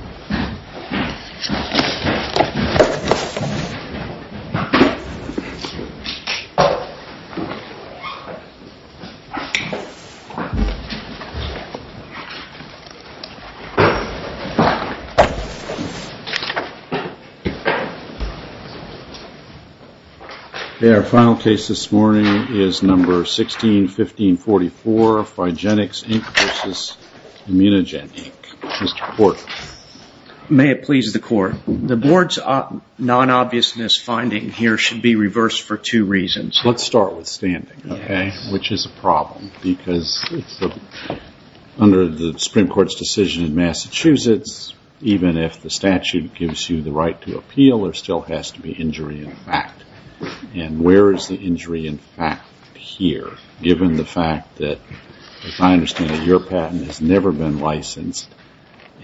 Okay, our final case this morning is number 161544, Phigenix, Inc. v. Immunogen, Inc. May it please the Court, the Board's non-obviousness finding here should be reversed for two reasons. Let's start with standing, okay, which is a problem because under the Supreme Court's decision in Massachusetts, even if the statute gives you the right to appeal, there still has to be injury in fact.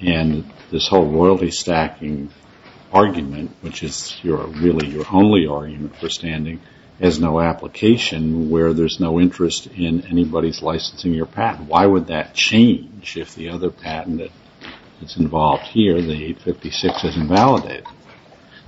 And this whole royalty stacking argument, which is really your only argument for standing, has no application where there's no interest in anybody's licensing your patent. Why would that change if the other patent that's involved here, the 856, isn't validated?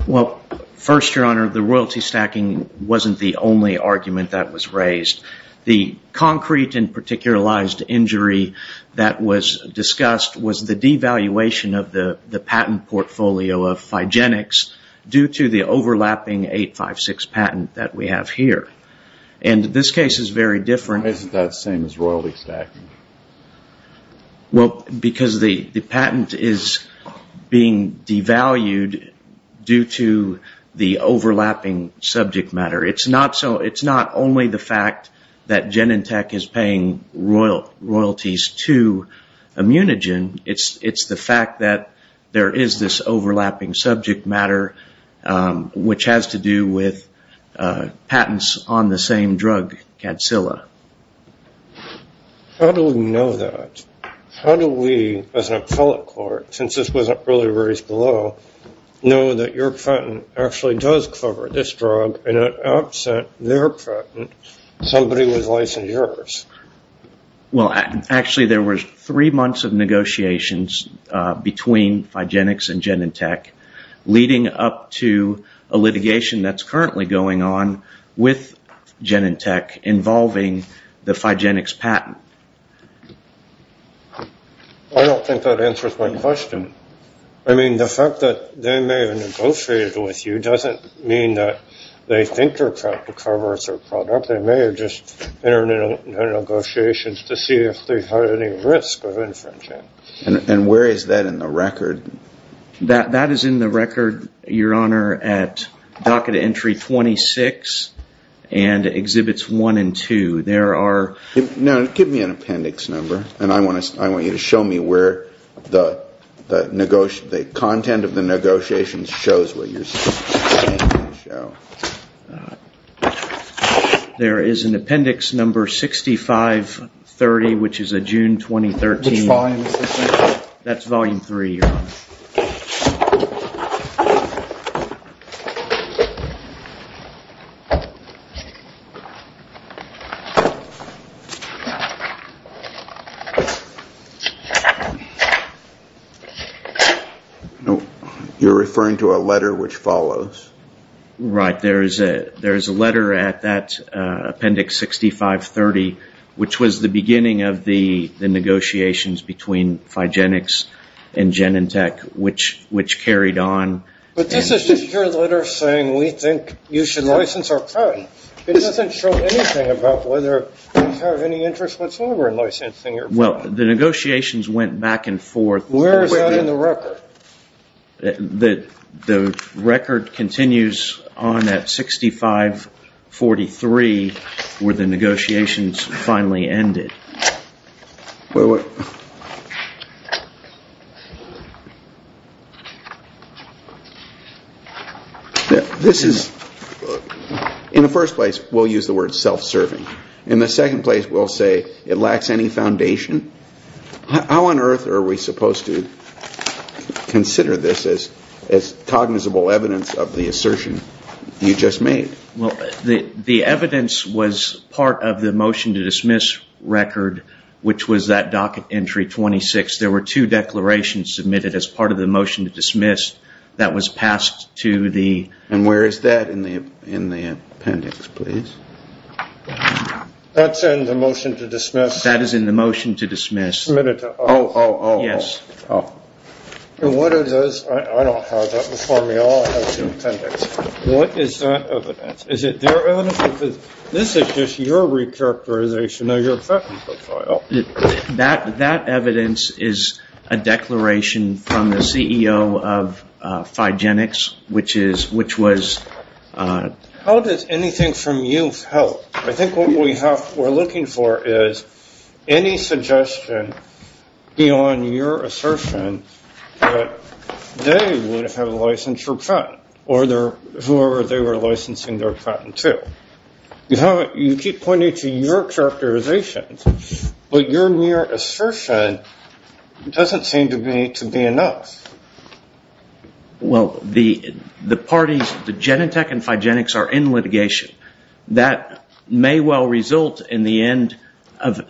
Well, first, Your Honor, the royalty stacking wasn't the only argument that was raised. The concrete and particularized injury that was discussed was the devaluation of the patent portfolio of Phigenix due to the overlapping 856 patent that we have here. And this case is very different. Why isn't that the same as royalty stacking? Well, because the patent is being devalued due to the overlapping subject matter. It's not only the fact that Genentech is paying royalties to Immunogen. It's the fact that there is this overlapping subject matter, which has to do with patents on the same drug, Cadsilla. How do we know that? How do we, as an appellate court, since this wasn't really raised below, know that your patent actually does cover this drug, and it upset their patent, somebody was licensing yours? Well, actually, there was three months of negotiations between Phigenix and Genentech, leading up to a litigation that's currently going on with Genentech involving the Phigenix patent. I don't think that answers my question. I mean, the fact that they may have negotiated with you doesn't mean that they think they're cut to cover as a product. They may have just entered into negotiations to see if they had any risk of infringing. And where is that in the record? That is in the record, Your Honor, at Docket Entry 26 and Exhibits 1 and 2. Now, give me an appendix number, and I want you to show me where the content of the negotiations shows what you're saying. There is an appendix number 6530, which is a June 2013. Which volume is this in? You're referring to a letter which follows. Right. There is a letter at that appendix 6530, which was the beginning of the negotiations between Phigenix and Genentech, which carried on. But this isn't your letter saying we think you should license our product. It doesn't show anything about whether we have any interest whatsoever in licensing your product. Well, the negotiations went back and forth. Where is that in the record? The record continues on at 6543, where the negotiations finally ended. Wait a minute. This is, in the first place, we'll use the word self-serving. In the second place, we'll say it lacks any foundation. How on earth are we supposed to consider this as cognizable evidence of the assertion you just made? Well, the evidence was part of the motion to dismiss record, which was that docket entry 26. There were two declarations submitted as part of the motion to dismiss that was passed to the... And where is that in the appendix, please? That's in the motion to dismiss. That is in the motion to dismiss. Submitted to us. Oh, oh, oh. Yes. Oh. I don't have that before me. I'll have it in the appendix. What is that evidence? Is it their evidence? Because this is just your recharacterization of your patent profile. That evidence is a declaration from the CEO of Phigenics, which was... How does anything from you help? I think what we're looking for is any suggestion beyond your assertion that they would have a licensure patent, or whoever they were licensing their patent to. You keep pointing to your characterization, but your mere assertion doesn't seem to be enough. Well, the parties, the Genentech and Phigenics are in litigation. That may well result in the end of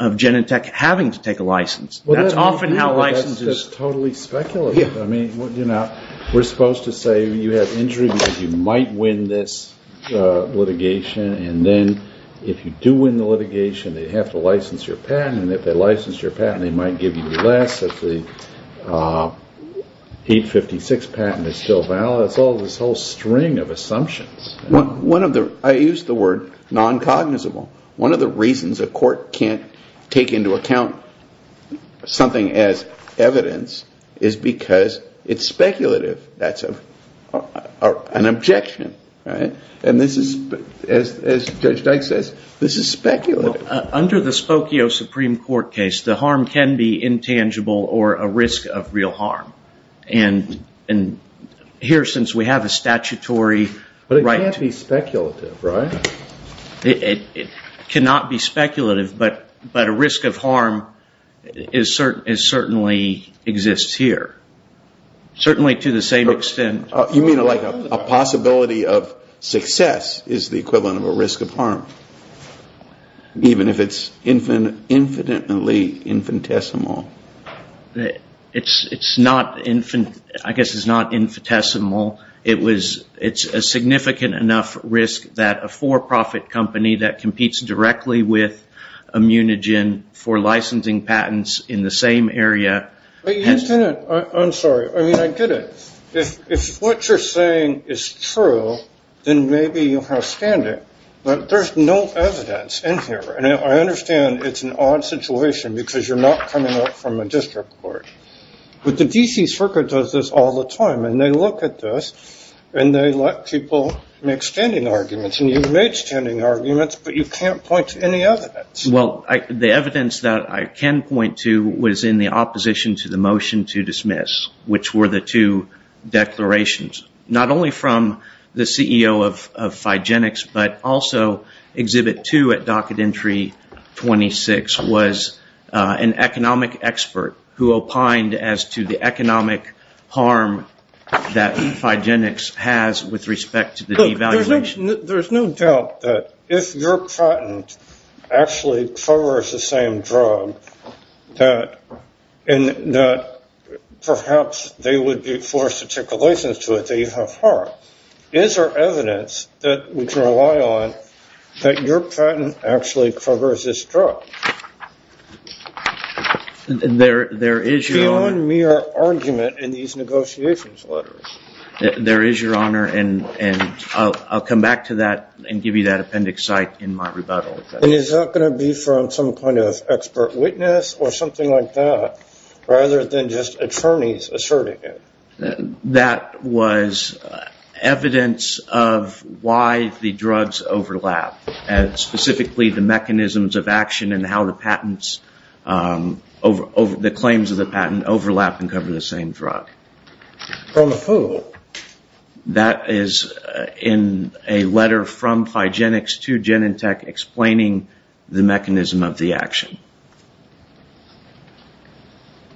Genentech having to take a license. That's often how licenses... That's totally speculative. We're supposed to say you have injury because you might win this litigation, and then if you do win the litigation, they have to license your patent, and if they license your patent, they might give you less. If the 856 patent is still valid. It's all this whole string of assumptions. I use the word non-cognizable. One of the reasons a court can't take into account something as evidence is because it's speculative. That's an objection. And this is, as Judge Dyke says, this is speculative. Under the Spokio Supreme Court case, the harm can be intangible or a risk of real harm. And here, since we have a statutory right... But it can't be speculative, right? It cannot be speculative, but a risk of harm certainly exists here. Certainly to the same extent... You mean like a possibility of success is the equivalent of a risk of harm, even if it's infinitely infinitesimal? It's not infinitesimal. It's a significant enough risk that a for-profit company that competes directly with Immunogen for licensing patents in the same area... I'm sorry. I mean, I get it. If what you're saying is true, then maybe you have standing. But there's no evidence in here. And I understand it's an odd situation because you're not coming up from a district court. But the D.C. Circuit does this all the time, and they look at this, and they let people make standing arguments. And you've made standing arguments, but you can't point to any evidence. Well, the evidence that I can point to was in the opposition to the motion to dismiss, which were the two declarations, not only from the CEO of Phygenics, but also Exhibit 2 at Docket Entry 26 was an economic expert who opined as to the economic harm that Phygenics has with respect to the devaluation. Look, there's no doubt that if your patent actually covers the same drug, that perhaps they would be forced to take a license to it. They'd have harm. Now, is there evidence that we can rely on that your patent actually covers this drug? There is, Your Honor. Beyond mere argument in these negotiations letters. There is, Your Honor. And I'll come back to that and give you that appendix cite in my rebuttal. Is that going to be from some kind of expert witness or something like that, rather than just attorneys asserting it? That was evidence of why the drugs overlap, and specifically the mechanisms of action and how the claims of the patent overlap and cover the same drug. From a fool? That is in a letter from Phygenics to Genentech explaining the mechanism of the action.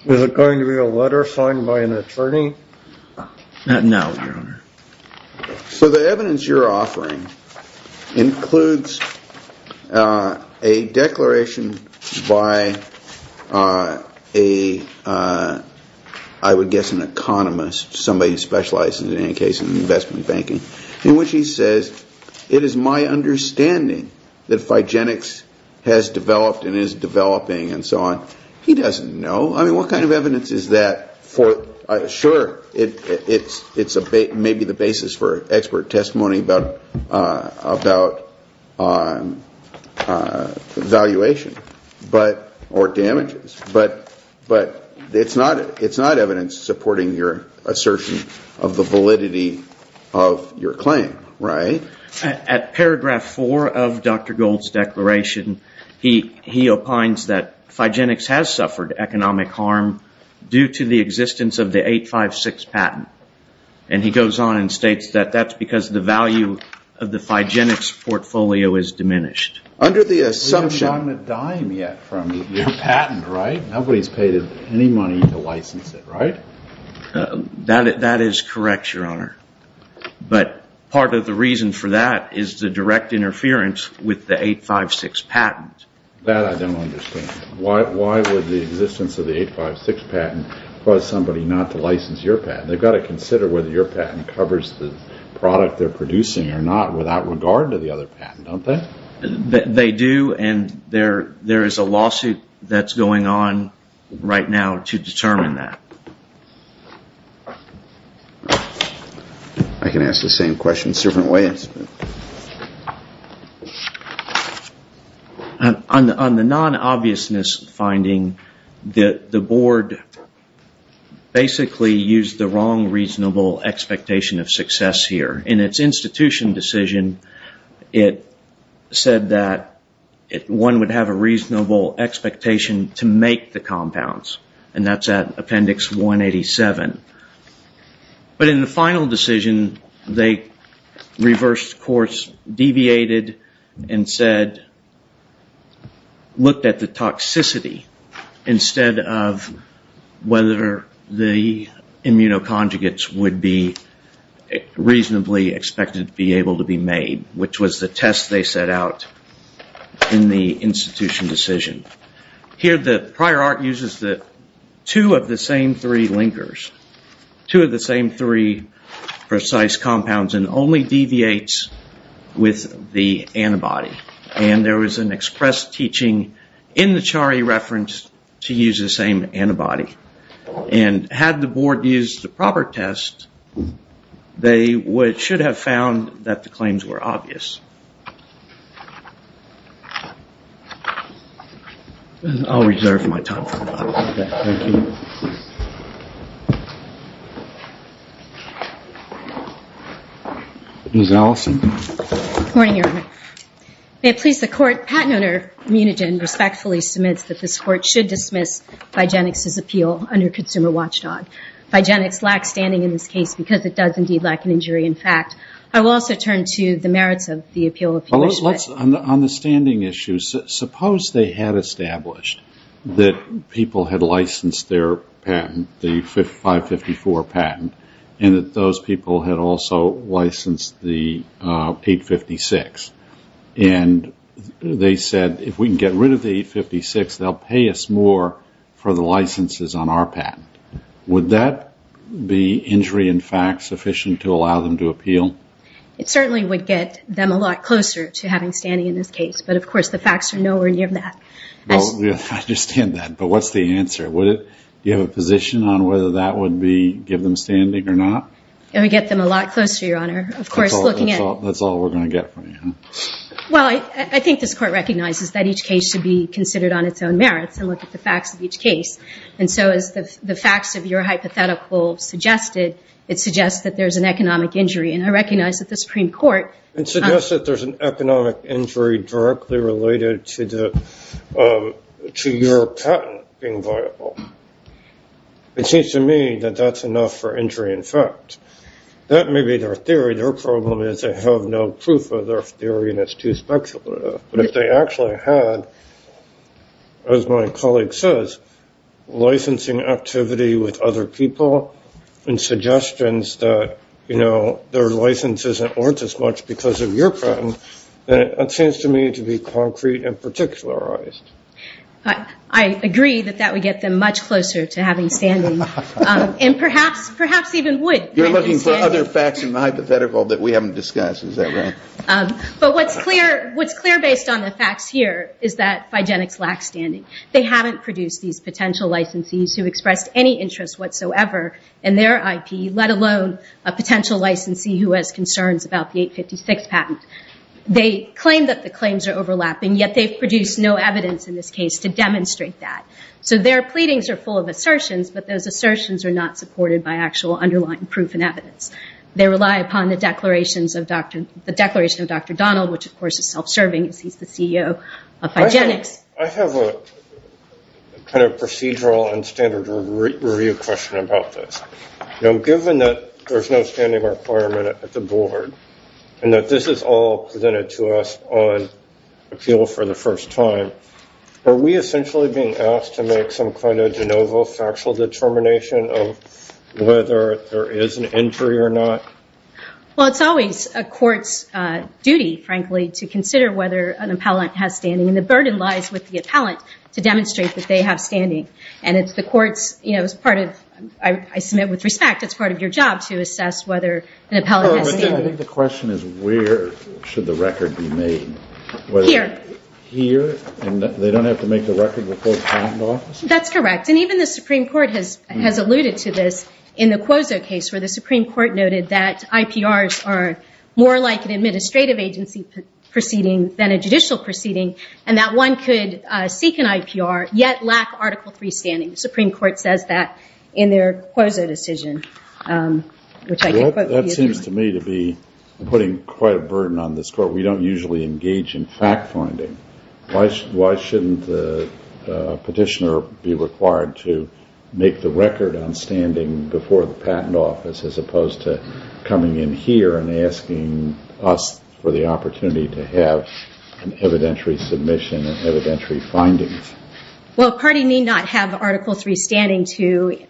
Is it going to be a letter signed by an attorney? Not now, Your Honor. So the evidence you're offering includes a declaration by a, I would guess, an economist, somebody who specializes in any case in investment banking, in which he says, it is my understanding that Phygenics has developed and is developing and so on. He doesn't know. I mean, what kind of evidence is that? Sure, it's maybe the basis for expert testimony about valuation or damages, but it's not evidence supporting your assertion of the validity of your claim, right? At paragraph four of Dr. Gold's declaration, he opines that Phygenics has suffered economic harm due to the existence of the 856 patent, and he goes on and states that that's because the value of the Phygenics portfolio is diminished. We haven't gotten a dime yet from your patent, right? Nobody's paid any money to license it, right? That is correct, Your Honor, but part of the reason for that is the direct interference with the 856 patent. That I don't understand. Why would the existence of the 856 patent cause somebody not to license your patent? They've got to consider whether your patent covers the product they're producing or not without regard to the other patent, don't they? They do, and there is a lawsuit that's going on right now to determine that. I can ask the same questions different ways. On the non-obviousness finding, the board basically used the wrong reasonable expectation of success here. In its institution decision, it said that one would have a reasonable expectation to make the compounds, and that's at Appendix 187. But in the final decision, they reversed course, deviated, and said, looked at the toxicity instead of whether the immunoconjugates would be reasonably expected to be able to be made, which was the test they set out in the institution decision. Here, the prior art uses two of the same three linkers, two of the same three precise compounds, and only deviates with the antibody. And there was an express teaching in the Chari reference to use the same antibody. And had the board used the proper test, they should have found that the claims were obvious. I'll reserve my time for that. Thank you. Ms. Allison. Good morning, Your Honor. May it please the Court, Patent Owner Munigen respectfully submits that this Court should dismiss Vigenix's appeal under Consumer Watchdog. Vigenix lacks standing in this case because it does indeed lack an injury in fact. I will also turn to the merits of the appeal. On the standing issues, suppose they had established that people had licensed their patent, the 554 patent, and that those people had also licensed the 856. And they said, if we can get rid of the 856, they'll pay us more for the licenses on our patent. Would that be injury in fact sufficient to allow them to appeal? It certainly would get them a lot closer to having standing in this case. But, of course, the facts are nowhere near that. I understand that. But what's the answer? Do you have a position on whether that would give them standing or not? It would get them a lot closer, Your Honor. That's all we're going to get from you. Well, I think this Court recognizes that each case should be considered on its own merits and look at the facts of each case. And so as the facts of your hypothetical suggested, it suggests that there's an economic injury. And I recognize that the Supreme Court suggests that there's an economic injury directly related to your patent being viable. It seems to me that that's enough for injury in fact. That may be their theory. Their problem is they have no proof of their theory, and it's too speculative. But if they actually had, as my colleague says, licensing activity with other people and suggestions that their licenses aren't as much because of your patent, then it seems to me to be concrete and particularized. I agree that that would get them much closer to having standing, and perhaps even would get them standing. You're looking for other facts in the hypothetical that we haven't discussed. Is that right? But what's clear based on the facts here is that Figenics lacks standing. They haven't produced these potential licensees who expressed any interest whatsoever in their IP, let alone a potential licensee who has concerns about the 856 patent. They claim that the claims are overlapping, yet they've produced no evidence in this case to demonstrate that. So their pleadings are full of assertions, but those assertions are not supported by actual underlying proof and evidence. They rely upon the declaration of Dr. Donald, which of course is self-serving, as he's the CEO of Figenics. I have a kind of procedural and standard review question about this. Given that there's no standing requirement at the board, and that this is all presented to us on appeal for the first time, are we essentially being asked to make some kind of de novo factual determination of whether there is an injury or not? Well, it's always a court's duty, frankly, to consider whether an appellant has standing, and the burden lies with the appellant to demonstrate that they have standing. And it's the court's, you know, it's part of, I submit with respect, it's part of your job to assess whether an appellant has standing. Oh, but then I think the question is where should the record be made? Here. Here, and they don't have to make the record with both patent offices? That's correct. And even the Supreme Court has alluded to this in the Quozo case, where the Supreme Court noted that IPRs are more like an administrative agency proceeding than a judicial proceeding, and that one could seek an IPR, yet lack Article III standing. The Supreme Court says that in their Quozo decision, which I can quote. That seems to me to be putting quite a burden on this court. We don't usually engage in fact-finding. Why shouldn't a petitioner be required to make the record on standing before the patent office, as opposed to coming in here and asking us for the opportunity to have an evidentiary submission and evidentiary findings? Well, a party may not have Article III standing to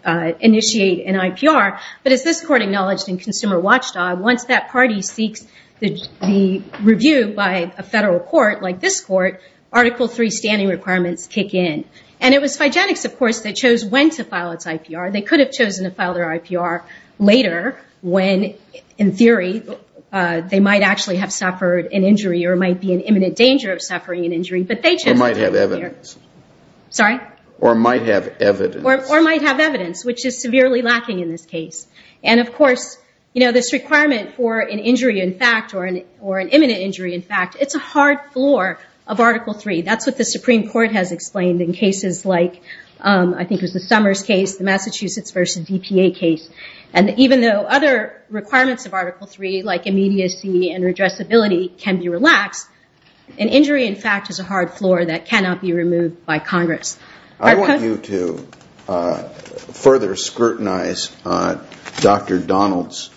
initiate an IPR, but as this court acknowledged in Consumer Watchdog, once that party seeks the review by a federal court like this court, Article III standing requirements kick in. And it was Phygenics, of course, that chose when to file its IPR. They could have chosen to file their IPR later when, in theory, they might actually have suffered an injury or might be in imminent danger of suffering an injury. Or might have evidence. Sorry? Or might have evidence. Or might have evidence, which is severely lacking in this case. And, of course, this requirement for an injury in fact or an imminent injury in fact, it's a hard floor of Article III. That's what the Supreme Court has explained in cases like, I think it was the Summers case, the Massachusetts versus DPA case. And even though other requirements of Article III, like immediacy and redressability, can be relaxed, an injury in fact is a hard floor that cannot be removed by Congress. I want you to further scrutinize Dr. Donald's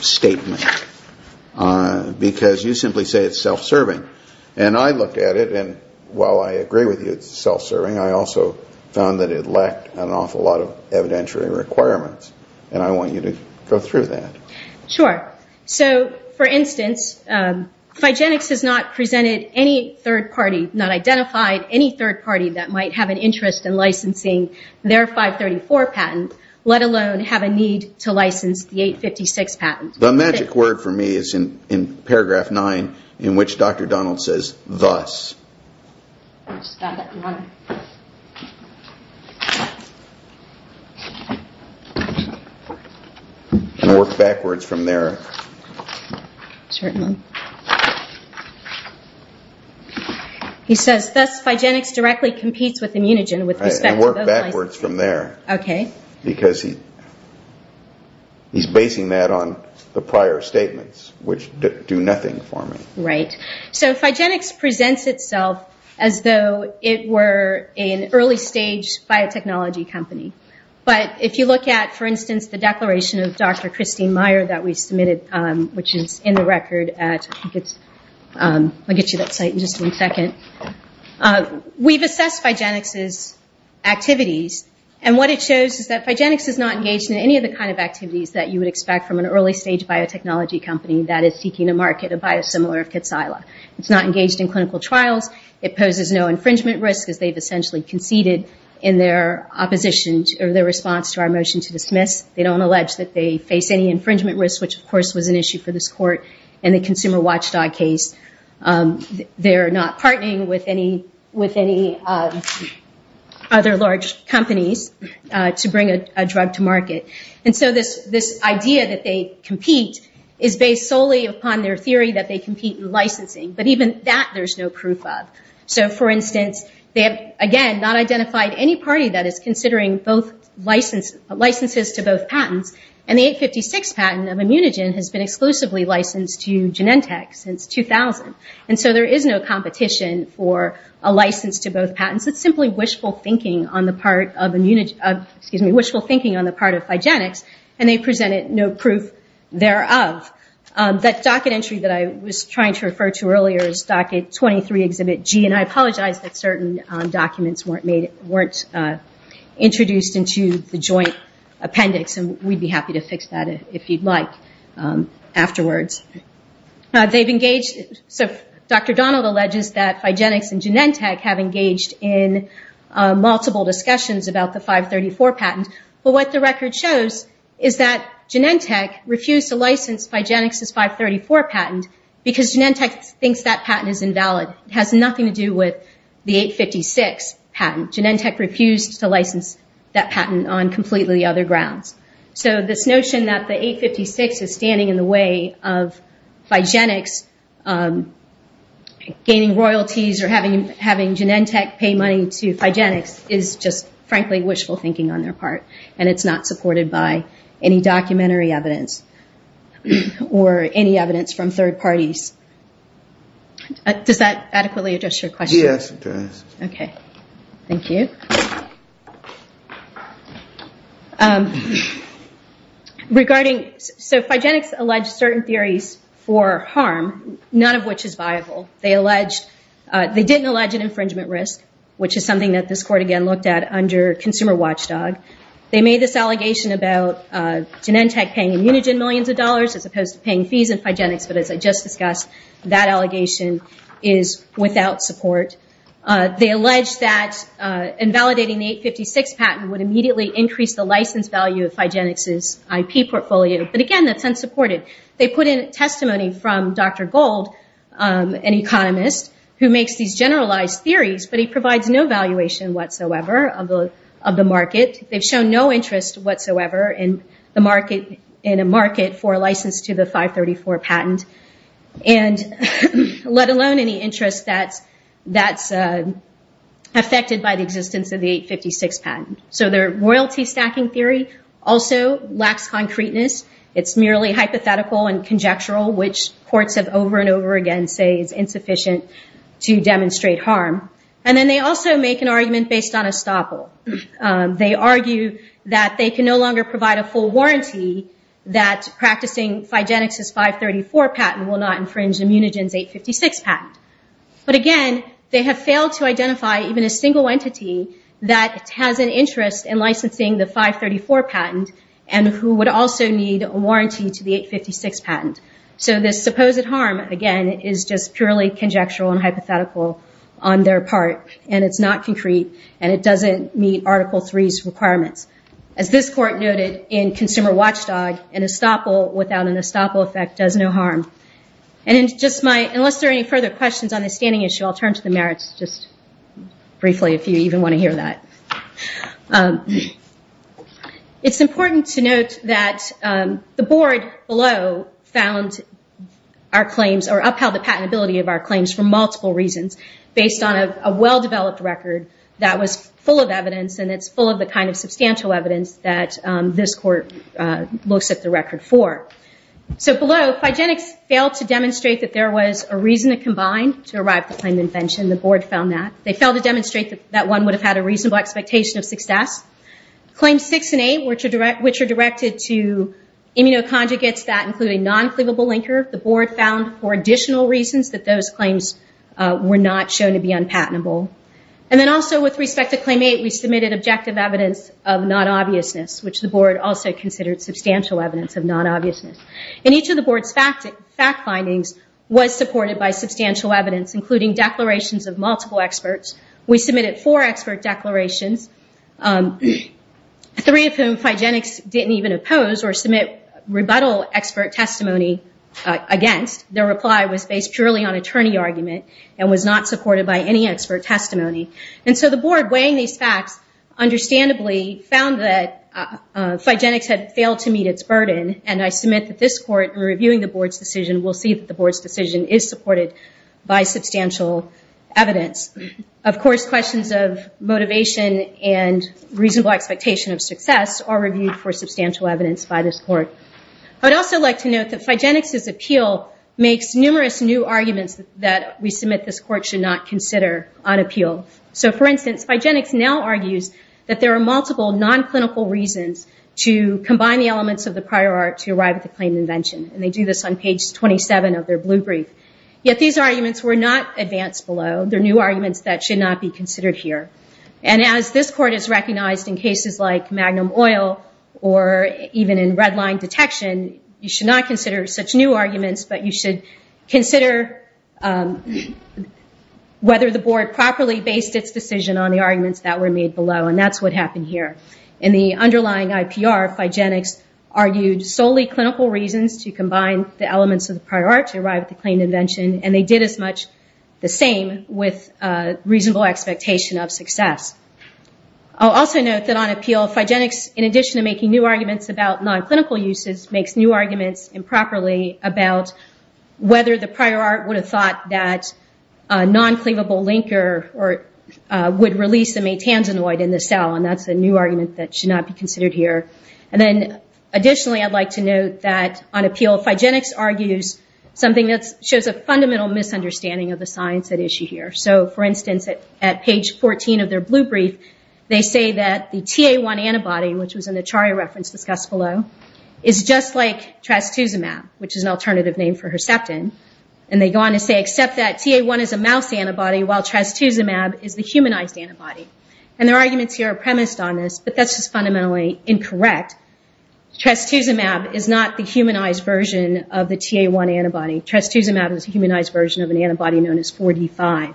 statement because you simply say it's self-serving. And I looked at it, and while I agree with you it's self-serving, I also found that it lacked an awful lot of evidentiary requirements. And I want you to go through that. Sure. So, for instance, Phygenics has not presented any third party, not identified any third party, that might have an interest in licensing their 534 patent, let alone have a need to license the 856 patent. The magic word for me is in paragraph 9 in which Dr. Donald says, thus. It's that one. Work backwards from there. Certainly. He says, thus Phygenics directly competes with Immunogen with respect to those licenses. And work backwards from there. Okay. Because he's basing that on the prior statements, which do nothing for me. Right. So Phygenics presents itself as though it were an early stage biotechnology company. But if you look at, for instance, the declaration of Dr. Christine Meyer that we submitted, which is in the record at, I'll get you that site in just one second. We've assessed Phygenics' activities, and what it shows is that Phygenics is not engaged in any of the kind of activities that you would expect from an early stage biotechnology company that is seeking to market a biosimilar of Kitsila. It's not engaged in clinical trials. It poses no infringement risk, as they've essentially conceded in their opposition, or their response to our motion to dismiss. They don't allege that they face any infringement risk, which of course was an issue for this court in the Consumer Watchdog case. They're not partnering with any other large companies to bring a drug to market. And so this idea that they compete is based solely upon their theory that they compete in licensing. But even that there's no proof of. So, for instance, they have, again, not identified any party that is considering licenses to both patents. And the 856 patent of Immunogen has been exclusively licensed to Genentech since 2000. And so there is no competition for a license to both patents. It's simply wishful thinking on the part of Phygenics, and they presented no proof thereof. That docket entry that I was trying to refer to earlier is Docket 23, Exhibit G, and I apologize that certain documents weren't introduced into the joint appendix, and we'd be happy to fix that if you'd like afterwards. So Dr. Donald alleges that Phygenics and Genentech have engaged in multiple discussions about the 534 patent. But what the record shows is that Genentech refused to license Phygenics' 534 patent because Genentech thinks that patent is invalid. It has nothing to do with the 856 patent. Genentech refused to license that patent on completely other grounds. So this notion that the 856 is standing in the way of Phygenics gaining royalties or having Genentech pay money to Phygenics is just, frankly, wishful thinking on their part, and it's not supported by any documentary evidence or any evidence from third parties. Does that adequately address your question? Yes, it does. Okay. Thank you. So Phygenics alleged certain theories for harm, none of which is viable. They didn't allege an infringement risk, which is something that this court again looked at under Consumer Watchdog. They made this allegation about Genentech paying Immunogen millions of dollars as opposed to paying fees in Phygenics, but as I just discussed, that allegation is without support. They allege that invalidating the 856 patent would immediately increase the license value of Phygenics' IP portfolio, but again, that's unsupported. They put in testimony from Dr. Gold, an economist, who makes these generalized theories, but he provides no valuation whatsoever of the market. They've shown no interest whatsoever in a market for a license to the 534 patent, let alone any interest that's affected by the existence of the 856 patent. So their royalty stacking theory also lacks concreteness. It's merely hypothetical and conjectural, which courts have over and over again say is insufficient to demonstrate harm. And then they also make an argument based on estoppel. They argue that they can no longer provide a full warranty that practicing Phygenics' 534 patent will not infringe Immunogen's 856 patent. But again, they have failed to identify even a single entity that has an interest in licensing the 534 patent and who would also need a warranty to the 856 patent. So this supposed harm, again, is just purely conjectural and hypothetical on their part, and it's not concrete, and it doesn't meet Article III's requirements. As this court noted in Consumer Watchdog, an estoppel without an estoppel effect does no harm. Unless there are any further questions on this standing issue, I'll turn to the merits just briefly, if you even want to hear that. It's important to note that the board below upheld the patentability of our claims for multiple reasons, based on a well-developed record that was full of evidence, and it's full of the kind of substantial evidence that this court looks at the record for. So below, Phygenics failed to demonstrate that there was a reason to combine to arrive at the claimed invention. The board found that. They failed to demonstrate that one would have had a reasonable expectation of success. Claims 6 and 8, which are directed to immunoconjugates that include a non-cleavable linker, the board found for additional reasons that those claims were not shown to be unpatentable. And then also with respect to Claim 8, we submitted objective evidence of non-obviousness, which the board also considered substantial evidence of non-obviousness. And each of the board's fact findings was supported by substantial evidence, including declarations of multiple experts. We submitted four expert declarations, three of whom Phygenics didn't even oppose or submit rebuttal expert testimony against. Their reply was based purely on attorney argument and was not supported by any expert testimony. And so the board, weighing these facts, understandably found that Phygenics had failed to meet its burden, and I submit that this court, in reviewing the board's decision, will see that the board's decision is supported by substantial evidence. Of course, questions of motivation and reasonable expectation of success are reviewed for substantial evidence by this court. I would also like to note that Phygenics' appeal makes numerous new arguments that we submit this court should not consider on appeal. So for instance, Phygenics now argues that there are multiple non-clinical reasons to combine the elements of the prior art to arrive at the claim invention, and they do this on page 27 of their blue brief. Yet these arguments were not advanced below. They're new arguments that should not be considered here. And as this court has recognized in cases like magnum oil or even in red line detection, you should not consider such new arguments, but you should consider whether the board properly based its decision on the arguments that were made below, and that's what happened here. In the underlying IPR, Phygenics argued solely clinical reasons to combine the elements of the prior art to arrive at the claim invention, and they did as much the same with reasonable expectation of success. I'll also note that on appeal, Phygenics, in addition to making new arguments about non-clinical uses, makes new arguments improperly about whether the prior art would have thought that a non-cleavable linker would release a metangenoid in the cell, and that's a new argument that should not be considered here. And then additionally, I'd like to note that on appeal, Phygenics argues something that shows a fundamental misunderstanding of the science at issue here. So, for instance, at page 14 of their blue brief, they say that the TA1 antibody, which was in the Charia reference discussed below, is just like trastuzumab, which is an alternative name for Herceptin, and they go on to say, except that TA1 is a mouse antibody while trastuzumab is the humanized antibody. And their arguments here are premised on this, but that's just fundamentally incorrect. Trastuzumab is not the humanized version of the TA1 antibody. Trastuzumab is a humanized version of an antibody known as 4D5.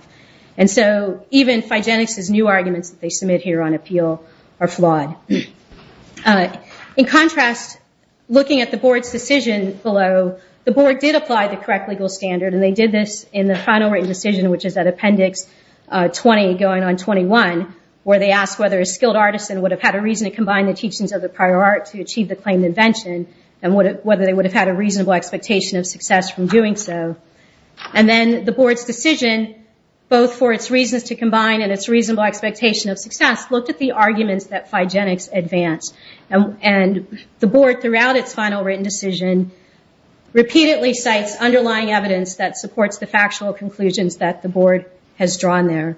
And so even Phygenics' new arguments that they submit here on appeal are flawed. In contrast, looking at the board's decision below, the board did apply the correct legal standard, and they did this in the final written decision, which is at appendix 20 going on 21, where they asked whether a skilled artisan would have had a reason to combine the teachings of the prior art to achieve the claimed invention, and whether they would have had a reasonable expectation of success from doing so. And then the board's decision, both for its reasons to combine and its reasonable expectation of success, looked at the arguments that Phygenics advanced. And the board, throughout its final written decision, repeatedly cites underlying evidence that supports the factual conclusions that the board has drawn there.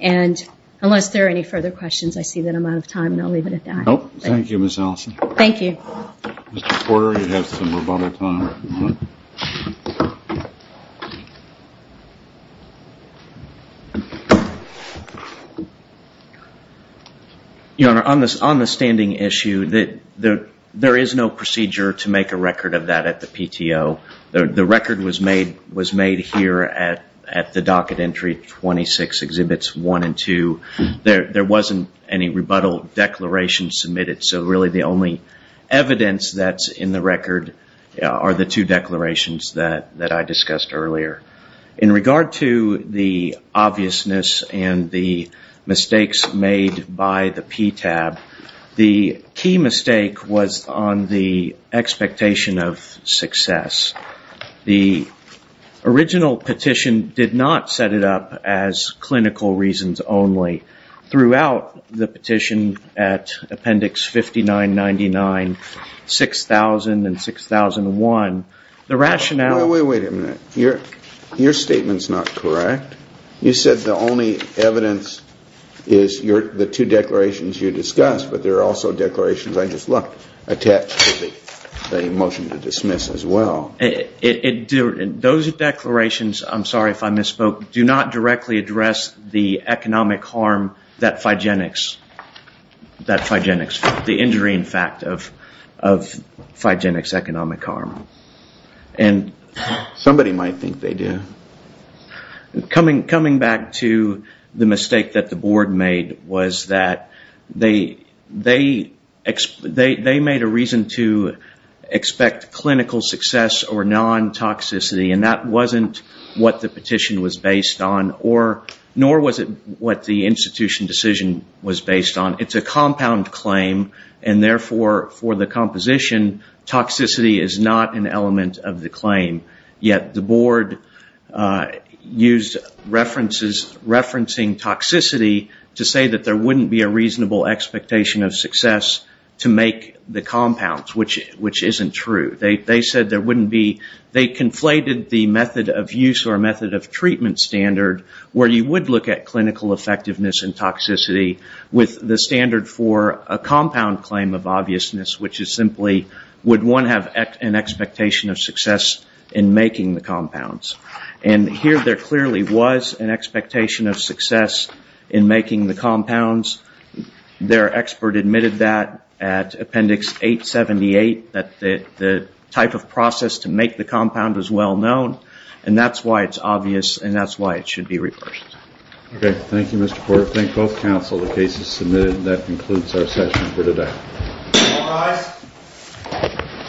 And unless there are any further questions, I see that I'm out of time, and I'll leave it at that. Thank you, Ms. Allison. Thank you. Mr. Porter, you have some rebuttal time. Your Honor, on the standing issue, there is no procedure to make a record of that at the PTO. The record was made here at the docket entry 26, Exhibits 1 and 2. There wasn't any rebuttal declaration submitted, so really the only evidence that's in the record are the two documents and the two declarations that I discussed earlier. In regard to the obviousness and the mistakes made by the PTAB, the key mistake was on the expectation of success. The original petition did not set it up as clinical reasons only. Throughout the petition at Appendix 5999, 6000, and 6001, the rationale... Wait a minute. Your statement's not correct. You said the only evidence is the two declarations you discussed, but there are also declarations I just looked at attached to the motion to dismiss as well. Those declarations, I'm sorry if I misspoke, do not directly address the economic harm that Phygenics... The injury, in fact, of Phygenics economic harm. Somebody might think they do. Coming back to the mistake that the board made was that they made a reason to expect clinical success or non-toxicity, and that wasn't what the petition was based on, nor was it what the institution decision was based on. It's a compound claim, and therefore, for the composition, toxicity is not an element of the claim. Yet the board used referencing toxicity to say that there wouldn't be a reasonable expectation of success to make the compounds, which isn't true. They conflated the method of use or method of treatment standard, where you would look at clinical effectiveness and toxicity, with the standard for a compound claim of obviousness, which is simply, would one have an expectation of success in making the compounds? And here, there clearly was an expectation of success in making the compounds. Their expert admitted that at Appendix 878, that the type of process to make the compound was well-known, and that's why it's obvious, and that's why it should be reversed. Okay. Thank you, Mr. Porter. Thank both counsel. The case is submitted, and that concludes our session for today. All rise.